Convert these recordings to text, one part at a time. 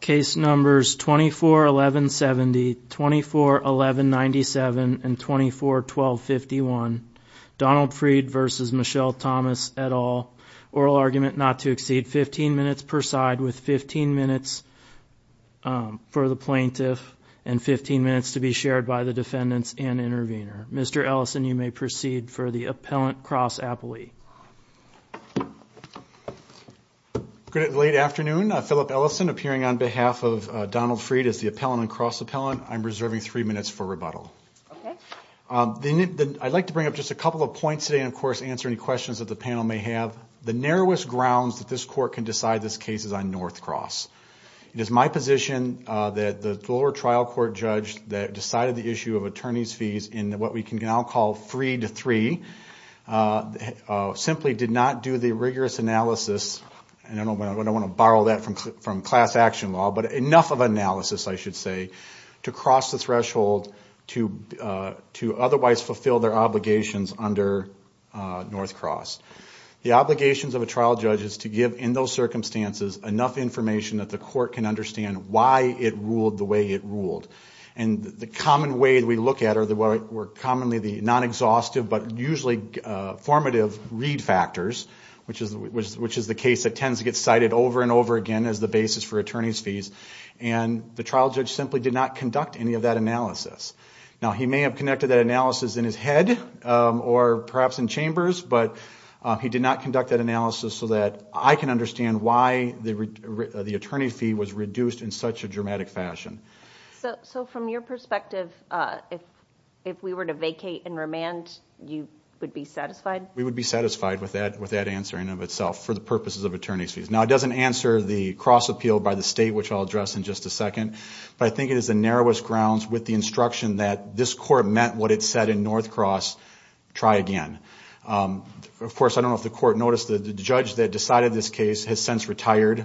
Case numbers 241170, 241197, and 241251. Donald Freed v. Michelle Thomas et al. Oral argument not to exceed 15 minutes per side with 15 minutes for the plaintiff and 15 minutes to be shared by the defendants and intervener. Mr. Ellison, you may proceed for the appellant cross-appellee. Good late afternoon. Philip Ellison appearing on behalf of Donald Freed as the appellant and cross-appellant. I'm reserving three minutes for rebuttal. I'd like to bring up just a couple of points today and of course answer any questions that the panel may have. The narrowest grounds that this court can decide this case is on North Cross. It is my position that the lower trial court judge that decided the issue of attorney's fees in what we can now call three to three simply did not do the rigorous analysis, and I don't want to borrow that from class action law, but enough of analysis I should say to cross the threshold to to otherwise fulfill their obligations under North Cross. The obligations of a trial judge is to give in those circumstances enough information that the court can understand why it ruled the way it ruled. And the common way we look at are the what were commonly the non-exhaustive but usually formative read factors, which is which is the case that tends to get cited over and over again as the basis for attorney's fees, and the trial judge simply did not conduct any of that analysis. Now he may have connected that analysis in his head or perhaps in chambers, but he did not conduct that analysis so that I can understand why the attorney fee was reduced in such a dramatic fashion. So from your perspective if we were to vacate and remand you would be satisfied? We would be satisfied with that with that answer in of itself for the purposes of attorney's fees. Now it doesn't answer the cross appeal by the state which I'll address in just a second, but I think it is the narrowest grounds with the instruction that this court met what it said in North Cross, try again. Of course I don't know if the court noticed that the judge that decided this case has since retired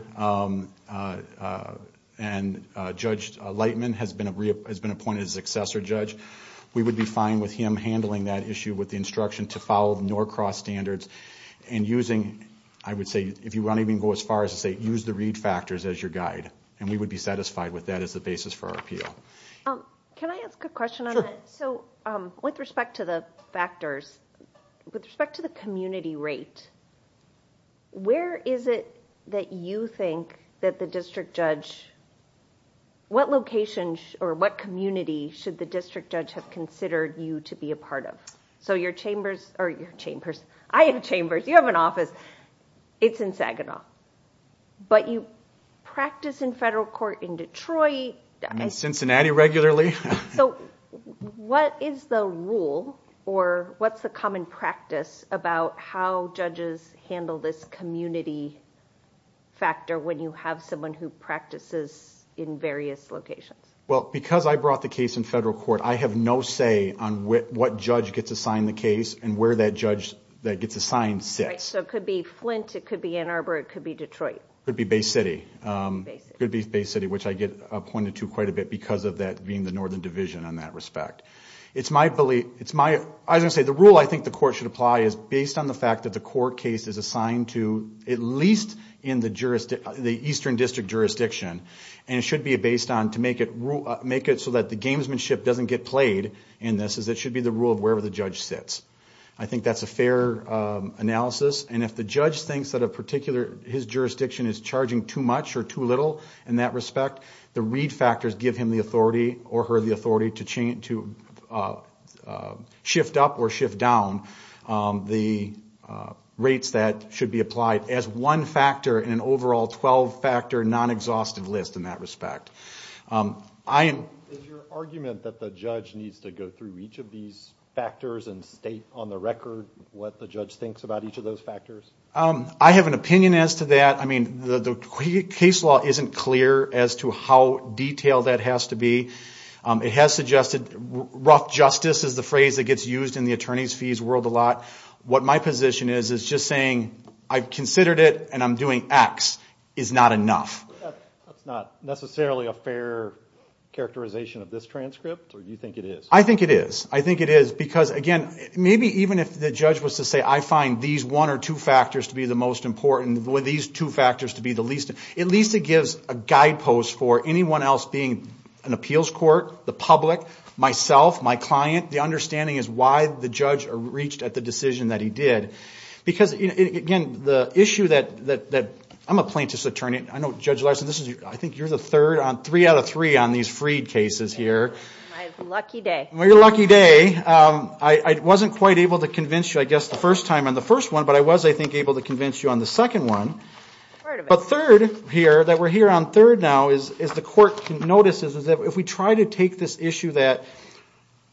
and Judge Lightman has been reappointed as successor judge. We would be fine with him handling that issue with the instruction to follow North Cross standards and using, I would say if you want even go as far as to say, use the read factors as your guide and we would be satisfied with that as the basis for our appeal. Can I ask a question on that? So with respect to the factors, with respect to the community rate, where is it that you think that the district judge, what location or what community should the district judge have considered you to be a part of? So your chambers or your chambers, I have chambers, you have an office, it's in Saginaw, but you practice in federal court in Detroit. I'm in Cincinnati regularly. So what is the rule or what's the common practice about how judges handle this community factor when you have someone who practices in various locations? Well because I brought the case in federal court, I have no say on what judge gets assigned the case and where that judge that gets assigned sits. So it could be Flint, it could be Ann Arbor, it could be Detroit. It could be Bay City. It could be Bay City, which I get appointed to quite a bit because of that being the Northern Division in that respect. It's my belief, it's my, I was going to say the rule I think the court should apply is based on the fact that the court case is assigned to at least in the jurisdiction, the Eastern District jurisdiction and it should be based on to make it rule, make it so that the gamesmanship doesn't get played and this is it should be the rule of wherever the judge sits. I think that's a fair analysis and if the judge thinks that a particular his jurisdiction is charging too much or too little in that respect, the read factors give him the authority or her the authority to change, to shift up or shift down the rates that should be applied as one factor in an overall 12-factor non-exhaustive list in that respect. Is your argument that the judge needs to go through each of these factors and state on the record what the judge thinks about each of those factors? I have an opinion as to that. I mean the case law isn't clear as to how detailed that has to be. It has suggested rough justice is the phrase that gets used in the attorneys fees world a lot. What my position is, is just saying I've considered it and I'm doing X is not enough. That's not necessarily a fair characterization of this transcript or you think it is? I think it is. I think it is because again maybe even if the judge was to say I find these one or two factors to be the most important, these two factors to be the least, at least it gives a guidepost for anyone else being an appeals court, the public, myself, my client, the understanding is why the judge reached at the decision that he did. Because again the issue that, I'm a plaintiff's attorney, I know Judge Larson, I think you're the third on three out of three on these freed cases here. My lucky day. Your lucky day. I wasn't quite able to convince you I guess the first time on the first one but I was I think able to convince you on the second one. But third here, that we're here on third now, is as the court notices is that if we try to take this issue that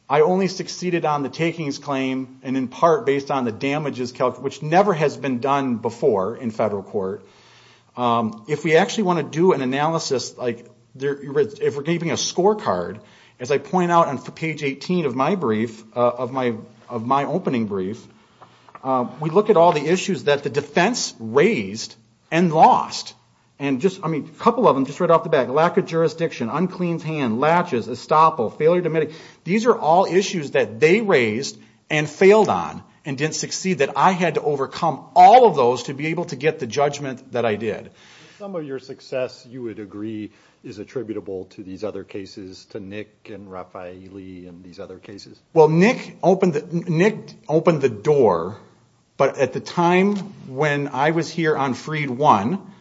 I only succeeded on the takings claim and in part based on the damages, which never has been done before in federal court, if we actually want to do an analysis, like if we're keeping a scorecard, as I point out on page 18 of my brief, of my opening brief, we look at all the issues that the defense raised and lost. And just, I mean, a couple of them just right off the bat, lack of jurisdiction, uncleans hand, latches, estoppel, failure to medic, these are all issues that they raised and failed on and didn't succeed. That I had to overcome all of those to be able to get the judgment that I did. Some of your success, you would agree, is attributable to these other cases, to Nick and Raffaele and these other cases. Well, Nick opened the door, but at the time when I was here on freed one,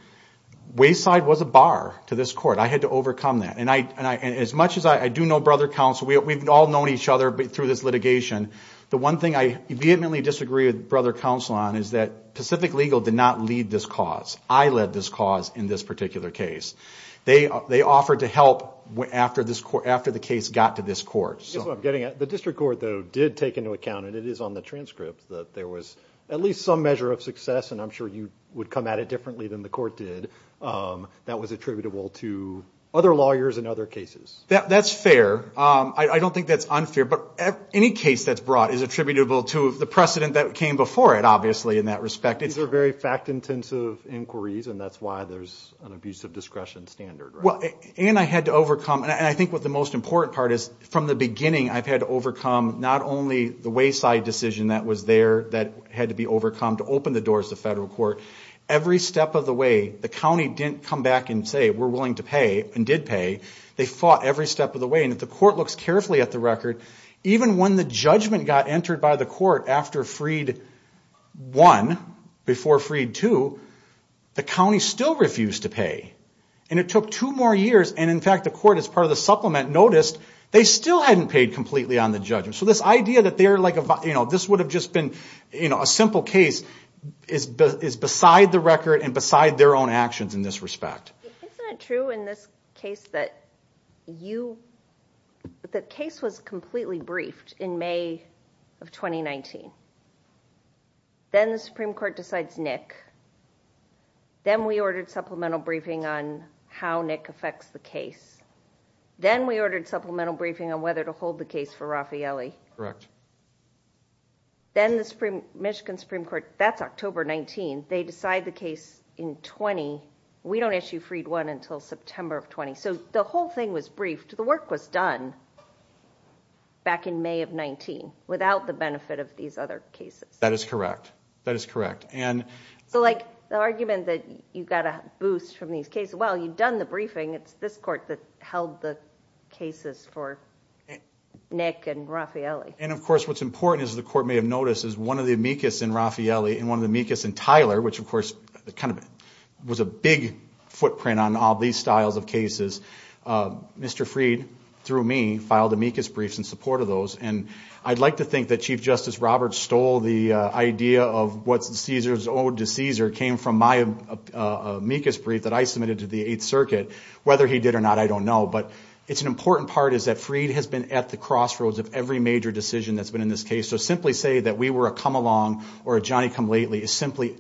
wayside was a bar to this court. I had to overcome that. And as much as I do know brother counsel, we've all known each other through this litigation, the one thing I vehemently disagree with brother counsel on is that Pacific Legal did not lead this cause. I led this cause in this particular case. They offered to help after the case got to this court. I guess what I'm getting at, the district court, though, did take into account, and it is on the transcript, that there was at least some measure of success, and I'm sure you would come at it differently than the court did, that was attributable to other lawyers and other cases. That's fair. I don't think that's unfair, but any case that's brought is attributable to the precedent that came before it, obviously, in that respect. These are very fact-intensive inquiries, and that's why there's an abuse of discretion standard. Well, and I had to overcome, and I think what the most important part is, from the beginning I've had to overcome not only the wayside decision that was there, that had to be overcome to open the doors to federal court. Every step of the way, the county didn't come back and say, we're willing to pay, and did pay. They fought every step of the way, and if the judgment got entered by the court after Freed 1, before Freed 2, the county still refused to pay. And it took two more years, and in fact, the court, as part of the supplement, noticed they still hadn't paid completely on the judgment. So this idea that they're like, you know, this would have just been, you know, a simple case, is beside the record and beside their own actions in this respect. Isn't it true in this case that you, the case was completely briefed in May of 2019. Then the Supreme Court decides Nick. Then we ordered supplemental briefing on how Nick affects the case. Then we ordered supplemental briefing on whether to hold the case for Raffaelli. Correct. Then the Michigan Supreme Court, that's October 19, they decide the case in 20. We don't issue Freed 1 until September of 20. So the whole thing was briefed. The work was done back in May of 19 without the benefit of these other cases. That is correct. That is correct. And so like the argument that you've got a boost from these cases, well you've done the briefing, it's this court that held the cases for Nick and Raffaelli. And of course what's important is the court may have noticed is one of the meekness in Raffaelli and one of the meekness in Tyler, which of course kind of was a big footprint on all these styles of cases. Mr. Freed, through me, filed the meekness briefs in support of those. And I'd like to think that Chief Justice Roberts stole the idea of what's Caesar's ode to Caesar came from my meekness brief that I submitted to the Eighth Circuit. Whether he did or not, I don't know. But it's an important part is that Freed has been at the crossroads of every major decision that's been in this case. So simply say that we were a come-along or a Johnny-come-lately is simply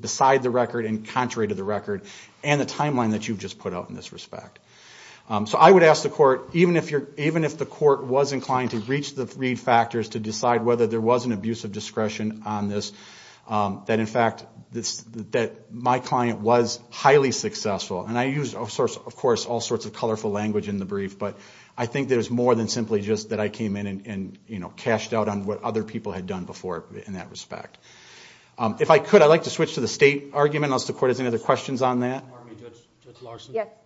beside the record and contrary to the record and the timeline that you've just put out in this respect. So I would ask the court, even if the court was inclined to reach the Freed factors to decide whether there was an abuse of discretion on this, that in fact that my client was highly successful. And I used, of course, all sorts of colorful language in the brief, but I think there's more than simply just that I came in and, you know, cashed out on what other people had done before in that respect. If I could, I'd like to switch to the state argument. I'll see if the court has any other questions on that. It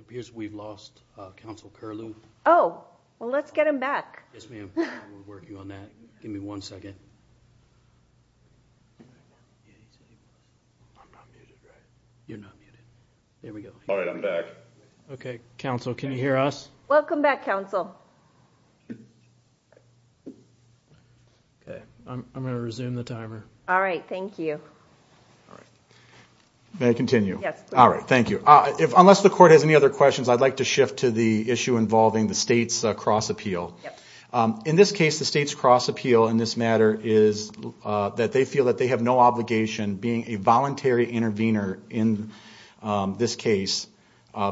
appears we've lost counsel Curlew. Oh, well let's get him back. Yes, ma'am, we're working on that. Give me one second. You're not muted. There we go. All right, I'm back. Okay, counsel, can you hear us? Welcome back, counsel. Okay, I'm gonna resume the timer. All right, thank you. May I continue? Yes. All right, thank you. Unless the court has any other questions, I'd like to shift to the issue involving the state's cross appeal. In this case, the state's cross appeal in this matter is that they feel that they have no obligation being a voluntary intervener in this case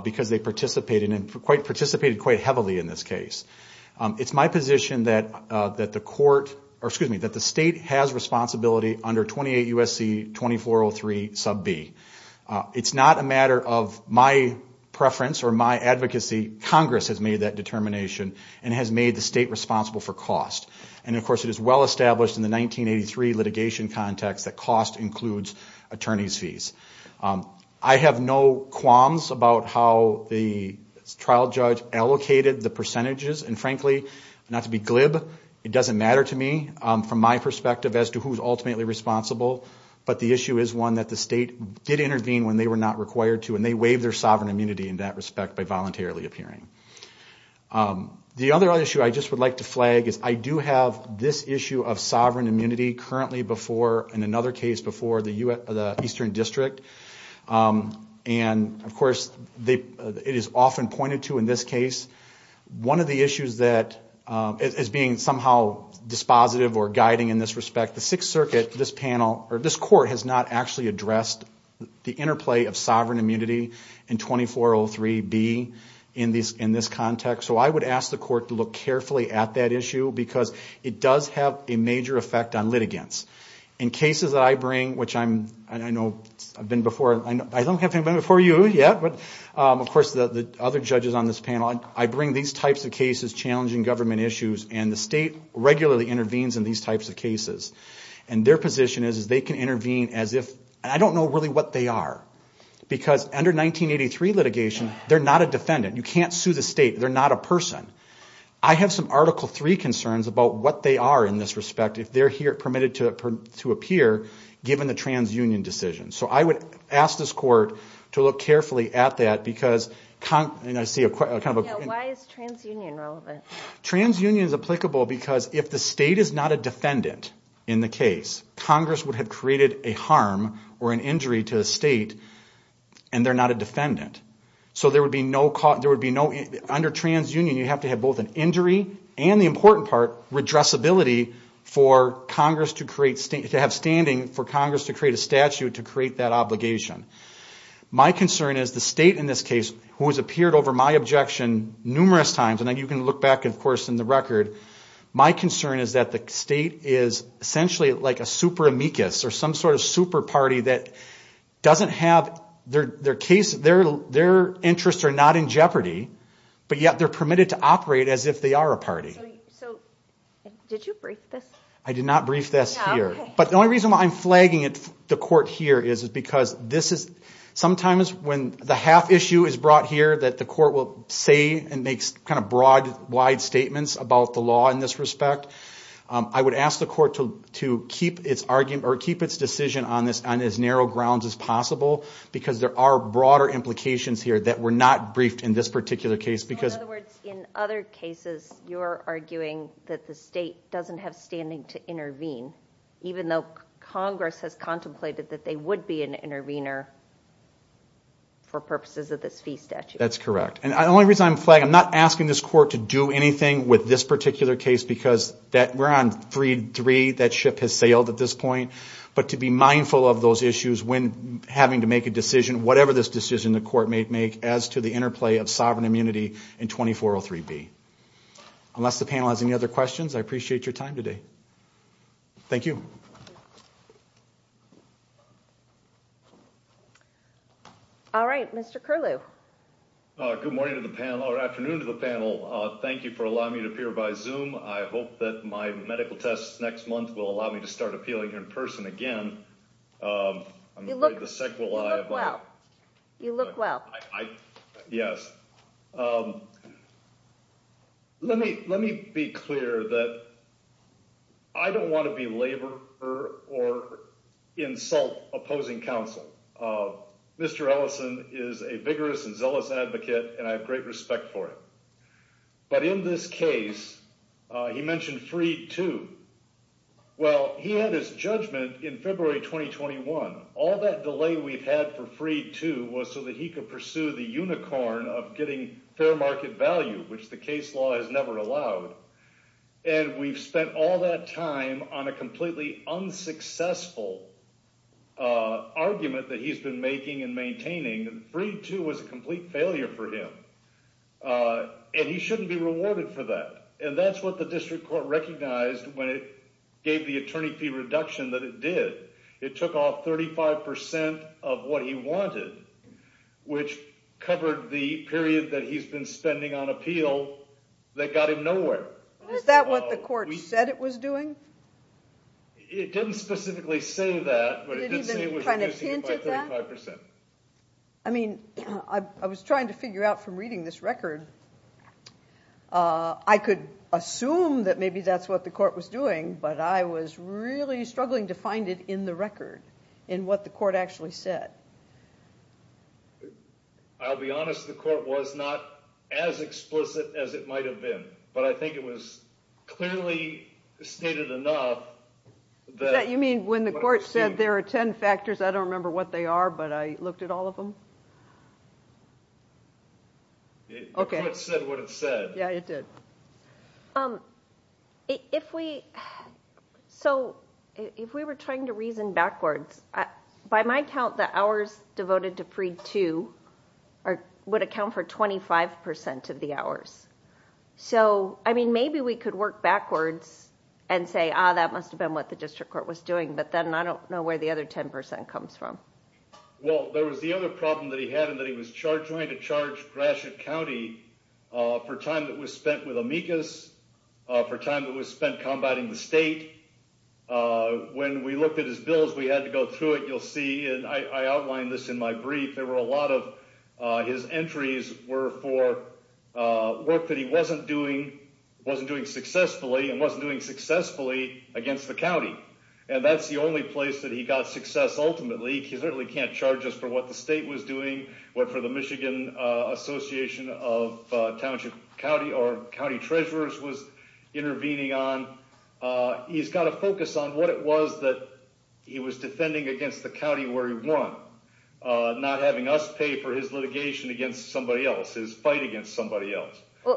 because they participated quite heavily in this case. It's my position that the state has responsibility under 28 U.S.C. 2403 sub B. It's not a matter of my preference or my advocacy. Congress has made that determination and has made the state responsible for cost. And, of course, it is well established in the 1983 litigation context that cost includes attorney's fees. I have no qualms about how the trial judge allocated the percentages. And, frankly, not to be glib, it doesn't matter to me from my perspective as to who's ultimately responsible. But the issue is one that the state did intervene when they were not required to and they waived their sovereign immunity in that respect by voluntarily appearing. The other issue I just would like to flag is I do have this issue of sovereign immunity currently before, in another case, before the Eastern District. And, of course, it is often pointed to in this case. One of the issues that is being somehow dispositive or guiding in this respect, the Sixth Circuit, this panel, or this court, has not actually addressed the interplay of sovereign immunity in 2403 B in this context. So I would ask the court to look carefully at that issue because it does have a major effect on litigants. In cases that I bring, which I'm, I know, I've been before, I don't have been before you yet, but, of course, the other judges on this panel, I bring these types of cases challenging government issues and the state regularly intervenes in these types of cases. And their position is they can intervene as if, I don't know really what they are, because under 1983 litigation they're not a defendant. You have some Article III concerns about what they are in this respect if they're here permitted to appear given the TransUnion decision. So I would ask this court to look carefully at that because, and I see a kind of... TransUnion is applicable because if the state is not a defendant in the case, Congress would have created a harm or an injury to the state and they're not a defendant. So there would be no, there would be no, under TransUnion you have to have both an injury and, the important part, redressability for Congress to create, to have standing for Congress to create a statute to create that obligation. My concern is the state in this case, who has appeared over my objection numerous times, and you can look back, of course, in the record, my concern is that the state is essentially like a super amicus or some sort of super party that doesn't have their case, their interests are not in jeopardy, but yet they're permitted to operate as if they are a party. So did you brief this? I did not brief this here, but the only reason why I'm flagging it, the court here, is because this is, sometimes when the half issue is brought here that the court will say and makes kind of broad, wide statements about the law in this respect, I would ask the court to keep its argument or keep its decision on this on as narrow grounds as possible because there are broader implications here that were not briefed in this particular case. In other words, in other cases you're arguing that the state doesn't have standing to intervene even though Congress has contemplated that they would be an intervener for purposes of this fee statute. That's correct, and the only reason I'm flagging, I'm not asking this court to do anything with this particular case because that we're on 3-3, that ship has sailed at this point, but to be mindful of those issues when having to make a decision, whatever this decision the court may make, as to the interplay of sovereign immunity in 2403B. Unless the panel has any other questions, I appreciate your time today. Thank you. All right, Mr. Curlew. Good morning to the panel, or afternoon to the panel. Thank you for allowing me to appear by Zoom. I hope that my medical tests next month will allow me to start appealing in person again. You look well. Yes. Let me be clear that I don't want to belabor or insult opposing counsel. Mr. Ellison is a vigorous and zealous advocate and I have great respect for him, but in this case, he mentioned Freed II. Well, he had his judgment in February 2021. All that delay we've had for Freed II was so that he could pursue the unicorn of getting fair market value, which the case law has never allowed, and we've spent all that time on a completely unsuccessful argument that he's been making and maintaining. Freed II was a complete failure for him, and he shouldn't be awarded for that, and that's what the district court recognized when it gave the attorney fee reduction that it did. It took off 35% of what he wanted, which covered the period that he's been spending on appeal that got him nowhere. Is that what the court said it was doing? It didn't specifically say that, but it did say it was reducing it by 35%. I mean, I was trying to figure out from reading this record, I could assume that maybe that's what the court was doing, but I was really struggling to find it in the record, in what the court actually said. I'll be honest, the court was not as explicit as it might have been, but I think it was clearly stated enough that... You mean when the court said there are ten factors, I don't remember what they are, but I looked at all of them? Okay. The court said what it said. Yeah, it did. So, if we were trying to reason backwards, by my count, the hours devoted to Freed II would account for 25% of the hours. So, I mean, maybe we could work backwards and say, ah, that must have been what the district court was doing, but then I don't know where the other 10% comes from. Well, there was the other problem that he had in that he was trying to charge Gratiot County for time that was spent with amicus, for time that was spent combating the state. When we looked at his bills, we had to go through it, you'll see, and I outlined this in my brief, there were a lot of his entries were for work that he wasn't doing, wasn't doing successfully, and wasn't doing successfully against the county, and that's the only place that he got success ultimately. He certainly can't charge us for what the state was doing, what for the Michigan Association of Township County or County Treasurers was intervening on. He's got to focus on what it was that he was defending against the county where he won, not having us pay for his litigation against somebody else, his fight against somebody else.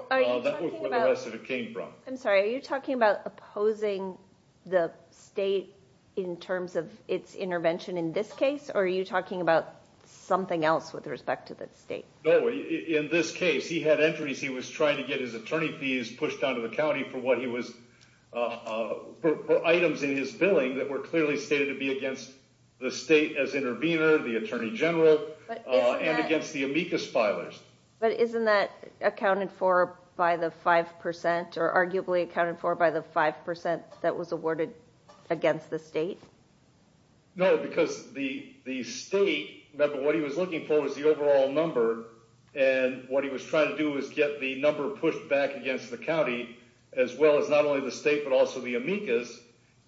I'm sorry, are you talking about opposing the state in terms of its intervention in this case, or are you talking about something else with respect to the state? No, in this case he had entries he was trying to get his attorney fees pushed down to the county for what he was, for items in his billing that were clearly stated to be against the state as intervener, the Attorney Amicus filers. But isn't that accounted for by the 5%, or arguably accounted for by the 5% that was awarded against the state? No, because the state, remember what he was looking for was the overall number, and what he was trying to do was get the number pushed back against the county as well as not only the state but also the amicus,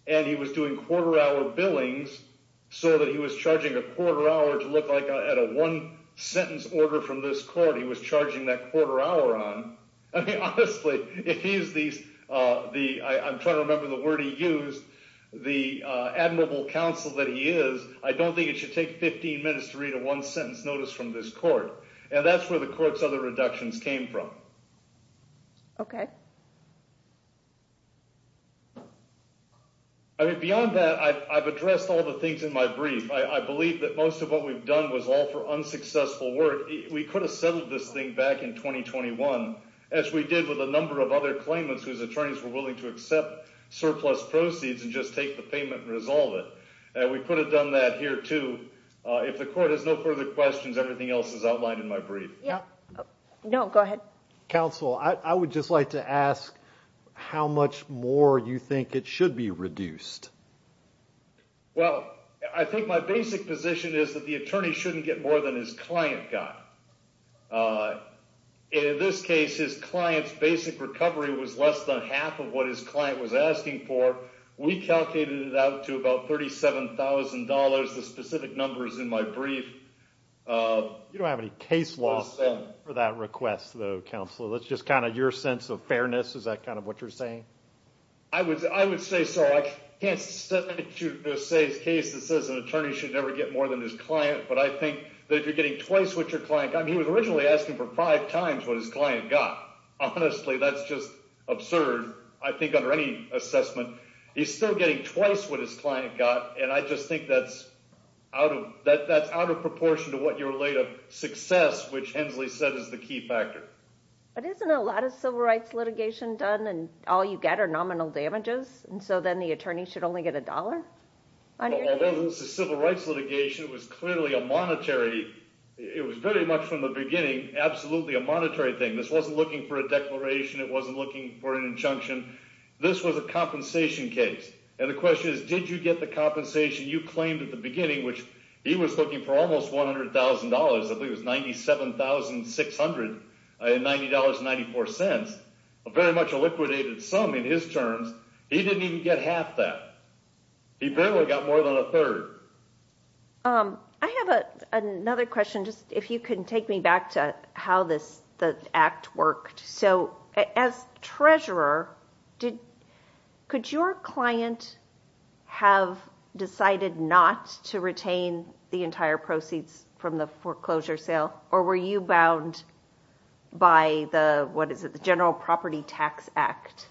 and he was doing quarter-hour billings so that he was charging a quarter-hour to look like at a one-sentence order from this court, he was charging that quarter-hour on. I mean, honestly, if he's these, I'm trying to remember the word he used, the admirable counsel that he is, I don't think it should take 15 minutes to read a one-sentence notice from this court, and that's where the court's other reductions came from. Okay. I mean, beyond that, I've addressed all the things in my brief. I believe that most of what we've done was all for unsuccessful work. We could have settled this thing back in 2021, as we did with a number of other claimants whose attorneys were willing to accept surplus proceeds and just take the payment and resolve it, and we could have done that here too. If the court has no further questions, everything else is outlined in my brief. Yeah. No, go ahead. Counsel, I would just like to ask how much more you think it should be reduced? Well, I think my basic position is that the attorney shouldn't get more than his client got. In this case, his client's basic recovery was less than half of what his client was asking for. We calculated it out to about $37,000. The specific number is in my brief. You don't have any case law for that request, though, Counselor. That's just kind of your sense of fairness. Is that kind of what you're saying? I would say so. I can't say his case that says an attorney should never get more than his client, but I think that if you're getting twice what your client got, he was originally asking for five times what his client got. Honestly, that's just absurd. I think under any assessment, he's still getting twice what his client got, and I just think that's out of proportion to what you're laid of success, which Hensley said is the key factor. But isn't a lot of civil rights litigation done and all you get are nominal damages, and so then the attorney should only get a dollar? Well, this is civil rights litigation. It was clearly a monetary, it was very much from the beginning, absolutely a monetary thing. This wasn't looking for a declaration. It wasn't looking for an injunction. This was a compensation case, and the question is, did you get the compensation you claimed at the beginning, which he was looking for almost $100,000. I believe it was $97,600 and $90.94, very much a liquidated sum in his terms. He didn't even get half that. He barely got more than a third. I have another question, just if you can take me back to how this act worked. So as treasurer, could your client have decided not to retain the entire proceeds from the foreclosure sale, or were you bound by the, what is it, the General Property Tax Act?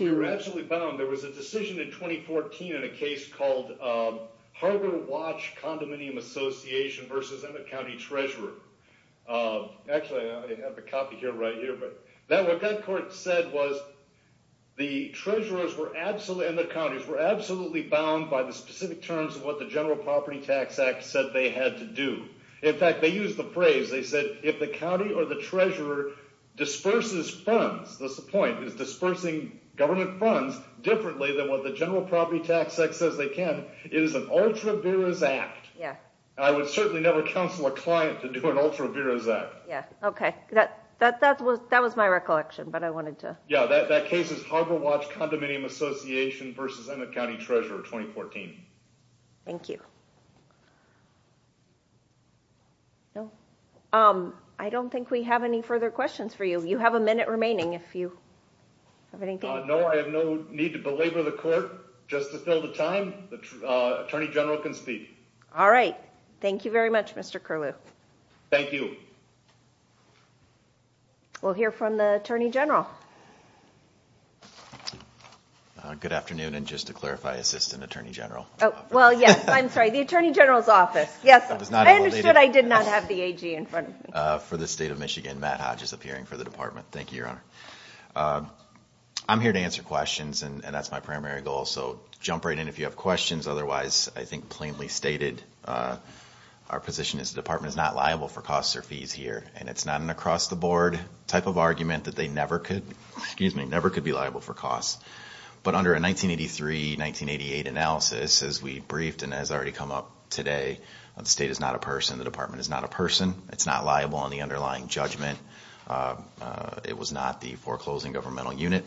We were absolutely bound. There was a decision in 2014 in a case called Harbor Watch Condominium Association versus Emmett County Treasurer. Actually, I have a copy here right here, but what that court said was the treasurers were absolutely, and the specific terms of what the General Property Tax Act said they had to do. In fact, they used the phrase, they said, if the county or the treasurer disperses funds, that's the point, is dispersing government funds differently than what the General Property Tax Act says they can, it is an ultra-virus act. Yeah. I would certainly never counsel a client to do an ultra-virus act. Yeah, okay, that was my recollection, but I wanted to... Yeah, that case is Harbor Watch Condominium Association versus Emmett County Treasurer, 2014. Thank you. No, I don't think we have any further questions for you. You have a minute remaining if you have anything. No, I have no need to belabor the court. Just to fill the time, the Attorney General can speak. All right, thank you very much, Mr. Curlew. Thank you. We'll hear from the Attorney General. Good afternoon, and just to clarify, Assistant Attorney General. Oh, well, yes, I'm sorry, the Attorney General's office. Yes, I understood I did not have the AG in front of me. For the state of Michigan, Matt Hodge is appearing for the department. Thank you, Your Honor. I'm here to answer questions, and that's my primary goal, so jump right in if you have questions. Otherwise, I think plainly stated, our position is the department is not liable for costs or fees here, and it's not an across-the-board type of argument that they never could... Excuse me, never could be liable for costs. But under a 1983-1988 analysis, as we briefed and has already come up today, the state is not a person, the department is not a person. It's not liable on the underlying judgment. It was not the foreclosing governmental unit,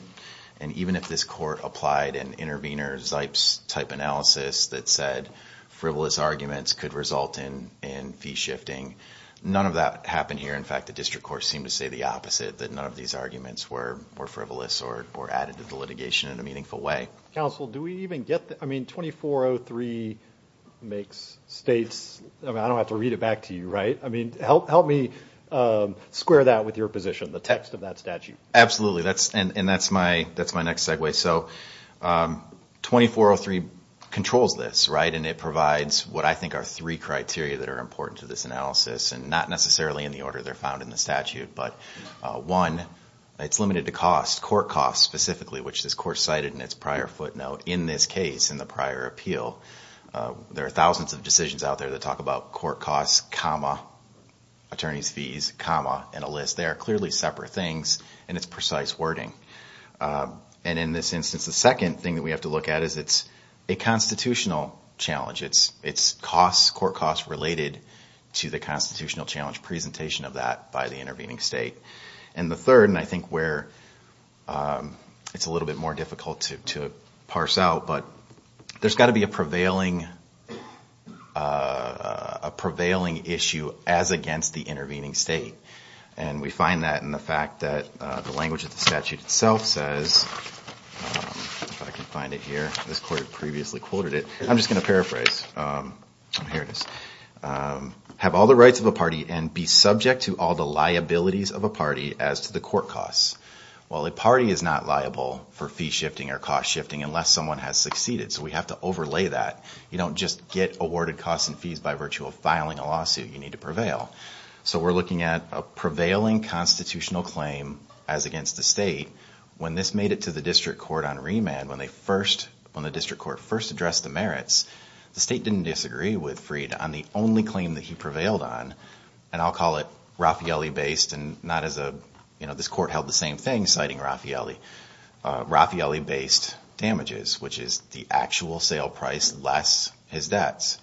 and even if this court applied an intervener, Zipes-type analysis that said frivolous arguments could result in fee shifting, none of that happened here. In fact, the district courts seem to say the opposite, that none of these arguments were frivolous or added to the litigation in a meaningful way. Counsel, do we even get the... I mean, 2403 makes states... I don't have to read it back to you, right? I mean, help me square that with your position, the text of that statute. Absolutely, and that's my next segue. So, 2403 controls this, right, and it provides what I think are three criteria that are important to this analysis, and not necessarily in the order they're found in the statute, but one, it's limited to cost, court costs specifically, which this court cited in its prior footnote in this case, in the prior appeal. There are thousands of decisions out there that talk about court costs, comma, attorneys fees, comma, and a list. They are clearly separate things, and it's precise wording. And in this instance, the second thing that we have to look at is it's a constitutional challenge. It's costs, court costs, related to the constitutional challenge presentation of that by the intervening state. And the third, and I think where it's a little bit more difficult to parse out, but there's got to be a prevailing issue as against the intervening state. And we find that in the fact that the language of the statute itself says, if I can find it here, this court previously quoted it. I'm just going to paraphrase. Here it is. Have all the rights of a party and be subject to all the liabilities of a party as to the court costs. Well, a party is not liable for fee shifting or cost shifting unless someone has succeeded. So we have to overlay that. You don't just get awarded costs and fees by virtue of filing a lawsuit. You need to prevail. So we're looking at a prevailing constitutional claim as against the state. When this made it to the district court on remand, when they first, when the district court first addressed the merits, the state didn't disagree with Freed on the only claim that he prevailed on. And I'll call it Raffaele-based and not as a, you know, this court held the same thing citing Raffaele. Raffaele-based damages, which is the actual sale price less his debts.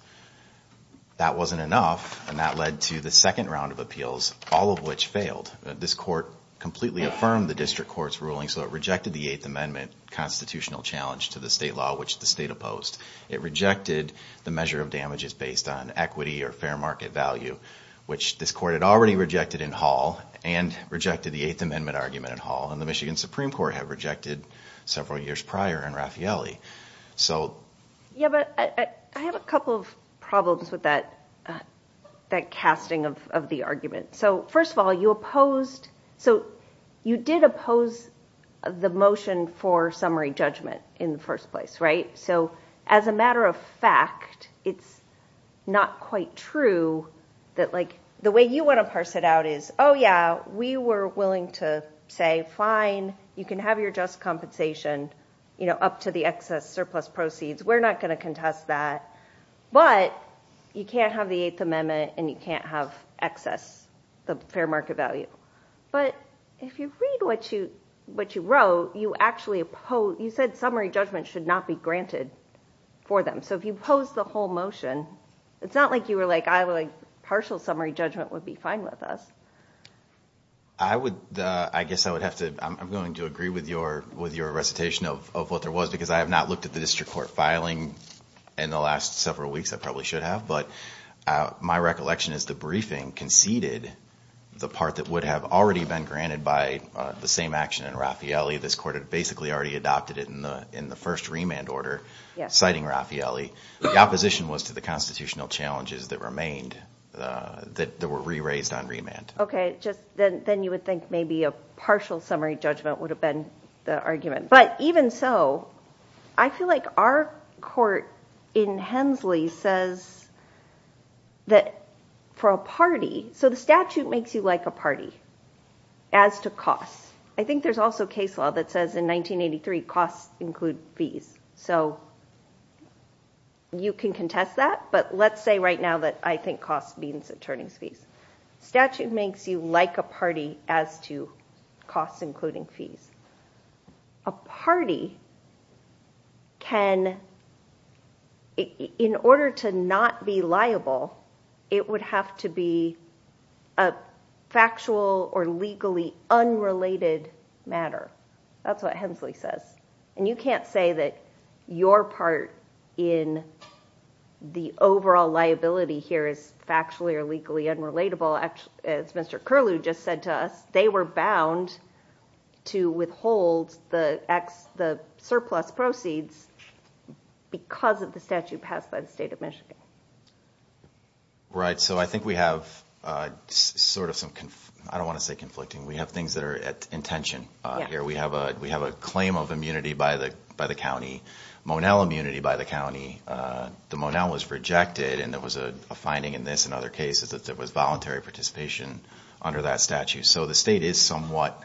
That wasn't enough and that led to the second round of appeals, all of which failed. This court completely affirmed the district court's ruling, so it rejected the Eighth Amendment constitutional challenge to the state law, which the state opposed. It rejected the measure of damages based on equity or fair market value, which this court had already rejected in Hall and rejected the Eighth Amendment argument in Hall and the Michigan Supreme Court had rejected several years prior in Raffaele. So... Yeah, but I have a couple of problems with that, that casting of the argument. So first of all, you opposed, so you did oppose the motion for summary judgment in the first place, right? So as a matter of fact, it's not quite true that, like, the way you want to parse it out is, oh yeah, we were willing to say, fine, you can have your just compensation, you know, up to the excess surplus proceeds. We're not going to contest that. But you can't have the Eighth Amendment and you can't have excess, the fair market value. But if you read what you wrote, you actually opposed, you said summary judgment should not be granted for them. So if you opposed the whole motion, it's not like you were like, partial summary judgment would be fine with us. I would, I guess I would have to, I'm going to agree with your, with your recitation of what there was, because I have not looked at the district court filing in the last several weeks, I probably should have, but my recollection is the briefing conceded the part that would have already been granted by the same action in Raffaele. This court had basically already adopted it in the in the first remand order, citing Raffaele. The opposition was to the constitutional challenges that remained, that were re-raised on remand. Okay, just then you would think maybe a partial summary judgment would have been the argument. But even so, I feel like our court in Hensley says that for a party, so the statute makes you like a party as to costs. I think there's also case law that says in 1983 costs include fees. So you can contest that. But let's say right now that I think costs means attorneys fees. Statute makes you like a party as to costs, including fees. A party can, in order to not be liable, it would have to be a factual or legally unrelated matter. That's what Hensley says. And you can't say that your part in the overall liability here is factually or legally unrelatable. As Mr. Curlew just said to us, they were bound to withhold the surplus proceeds because of the statute passed by the state of Michigan. Right, so I think we have sort of some, I don't want to say conflicting, we have things that are at intention. Here we have a claim of immunity by the county, Monell immunity by the county. The Monell was rejected and there was a finding in this and other cases that there was voluntary participation under that statute. So the state is somewhat,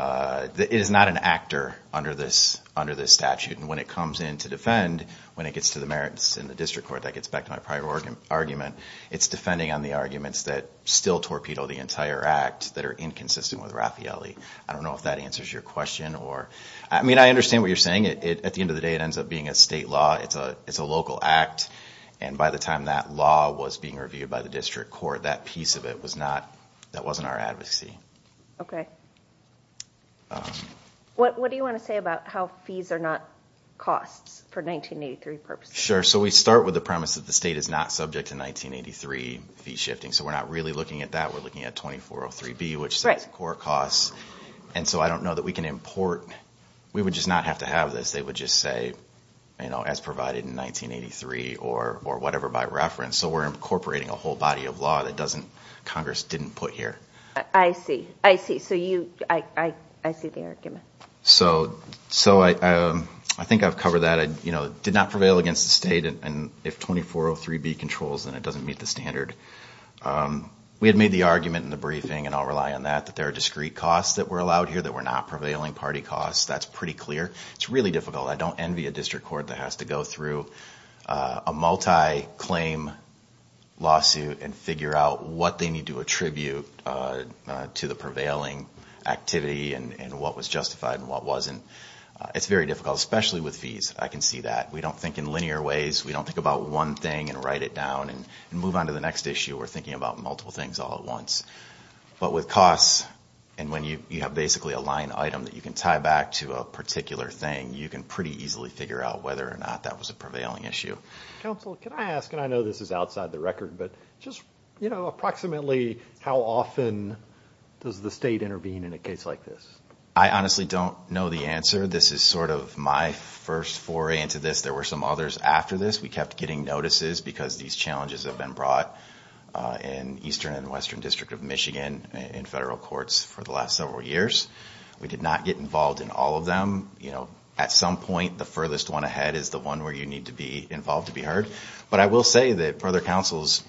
it is not an actor under this statute and when it comes in to defend, when it gets to the merits in the district court, that gets back to my prior argument, it's defending on the arguments that still torpedo the entire act that are inconsistent with Raffaelli. I don't know if that answers your question or, I mean I understand what you're saying, at the end of the day it ends up being a state law, it's a local act and by the time that law was being reviewed by the district court that piece of it was not, that wasn't our advocacy. Okay, what do you want to say about how fees are not costs for 1983 purposes? Sure, so we start with the premise that the state is not subject to 1983 fee shifting, so we're not really looking at that, we're looking at 2403B, which sets core costs and so I don't know that we can import, we would just not have to have this, they would just say, you know, as provided in 1983 or whatever by reference, so we're incorporating a whole body of law that doesn't, Congress didn't put here. I see, I see, so you, I see the argument. So, so I, I think I've covered that, you know, it did not prevail against the state and if 2403B controls then it doesn't meet the standard. We had made the argument in the briefing and I'll rely on that, that there are discrete costs that were allowed here that were not prevailing party costs, that's pretty clear. It's really difficult, I don't envy a district court that has to go through a multi-claim lawsuit and figure out what they need to attribute to the prevailing activity and what was justified and what wasn't. It's very difficult, especially with fees, I can see that. We don't think in linear ways, we don't think about one thing and write it down and move on to the next issue, we're thinking about multiple things all at once. But with costs and when you have basically a line item that you can tie back to a particular thing, you can pretty easily figure out whether or not that was a prevailing issue. Counsel, can I ask, and I know this is outside the record, but just, you know, approximately how often does the state intervene in a case like this? I honestly don't know the answer. This is sort of my first foray into this. There were some others after this. We kept getting notices because these challenges have been brought in Eastern and Western District of Michigan in federal courts for the last several years. We did not get involved in all of them. You know, at some point, the furthest one ahead is the one where you need to be involved to be heard. But I will say that for other counsel's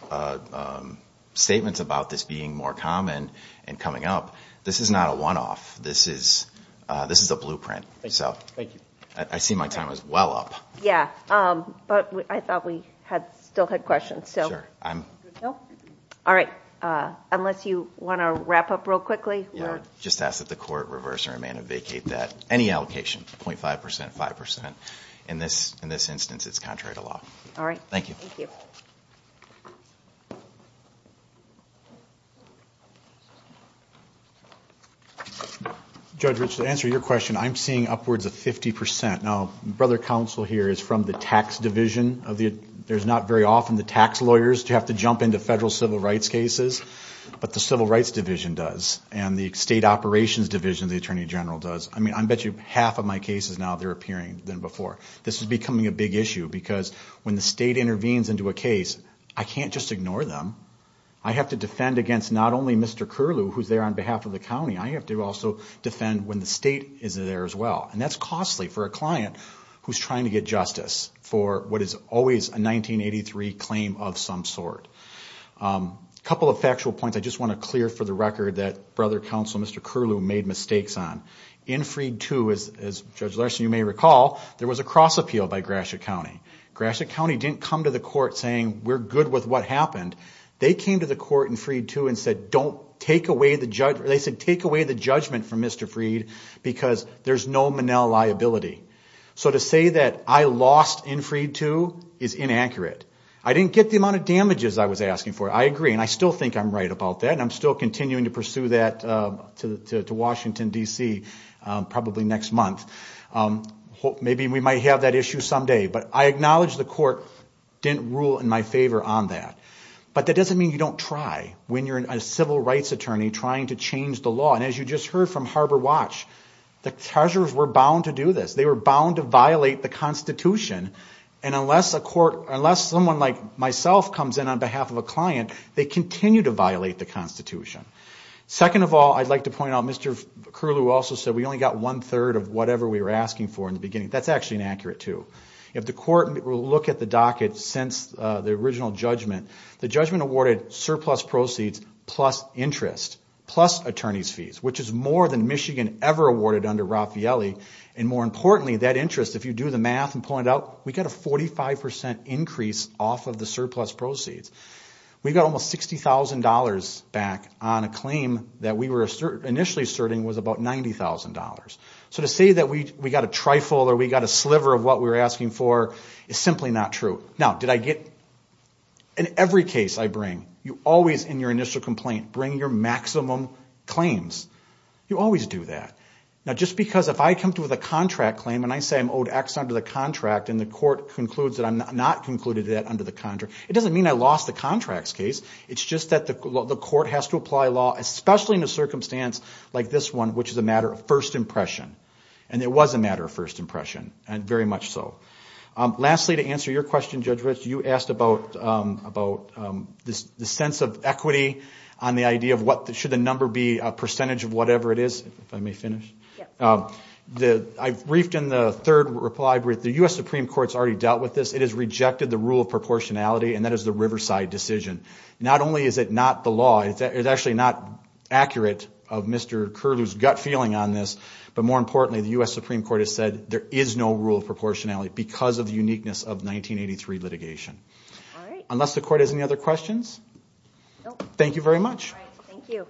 statements about this being more common and coming up, this is not a one-off. This is a blueprint. Thank you. I see my time is well up. Yeah, but I thought we still had questions. All right, unless you want to wrap up real quickly. Just ask that the court reverse or amend or vacate that. Any allocation, 0.5%, 5%. In this instance, it's contrary to law. All right. Thank you. Judge, to answer your question, I'm seeing upwards of 50%. Now, brother counsel here is from the tax division. There's not very often the tax lawyers have to jump into federal civil rights cases, but the civil rights division does. And the state operations division, the attorney general does. I mean, I bet you half of my cases now, they're appearing than before. This is becoming a big issue because when the state intervenes into a case, I can't just ignore them. I have to defend against not only Mr. Curlew, who's there on behalf of the county, I have to also defend when the state is there as well. And that's costly for a client who's trying to get justice for what is always a 1983 claim of some sort. A couple of factual points. I just want to clear for the record that brother counsel, Mr. Curlew, made mistakes on. In Freed II, as Judge Larson, you may recall, there was a cross appeal by Gratiot County. Gratiot County didn't come to the court saying, we're good with what happened. They came to the court in Freed II and said, don't take away the judge. They said, take away the judgment from Mr. Freed because there's no Manel liability. So to say that I lost in Freed II is inaccurate. I didn't get the amount of damages I was asking for. I agree. And I still think I'm right about that. And I'm still continuing to pursue that to Washington, D.C., probably next month. Maybe we might have that issue someday. But I acknowledge the court didn't rule in my favor on that. But that doesn't mean you don't try when you're a civil rights attorney trying to change the law. And as you just heard from Harbor Watch, the treasures were bound to do this. They were bound to violate the Constitution. And unless a court, unless someone like myself comes in on behalf of a client, they continue to violate the Constitution. Second of all, I'd like to point out, Mr. Curlew also said we only got one-third of whatever we were asking for in the beginning. That's actually inaccurate, too. If the court will look at the docket since the original judgment, the judgment awarded surplus proceeds plus interest, plus attorney's fees, which is more than Michigan ever awarded under Raffaelli. And more importantly, that interest, if you do the math and pull it out, we got a 45% increase off of the surplus proceeds. We got almost $60,000 back on a claim that we were initially asserting was about $90,000. So to say that we got a trifle or we got a sliver of what we were asking for is simply not true. Now, did I get, in every case I bring, you always, in your initial complaint, bring your maximum claims. You always do that. Now, just because if I come to with a contract claim and I say I'm owed X under the contract and the court concludes that I'm not concluded that under the contract, it doesn't mean I lost the contracts case. It's just that the court has to apply law, especially in a circumstance like this one, which is a matter of first impression. And it was a matter of first impression, and very much so. Lastly, to answer your question, Judge Rich, you asked about the sense of equity on the idea of should the number be a percentage of whatever it is, if I may finish. I've briefed in the third reply brief, the U.S. Supreme Court's already dealt with this. It has rejected the rule of proportionality, and that is the Riverside decision. Not only is it not the law, it's actually not accurate of Mr. Curlew's gut feeling on this, but more importantly, the U.S. Supreme Court has said there is no rule of proportionality because of the uniqueness of 1983 litigation. Unless the court has any other questions, thank you very much. All right, thank you.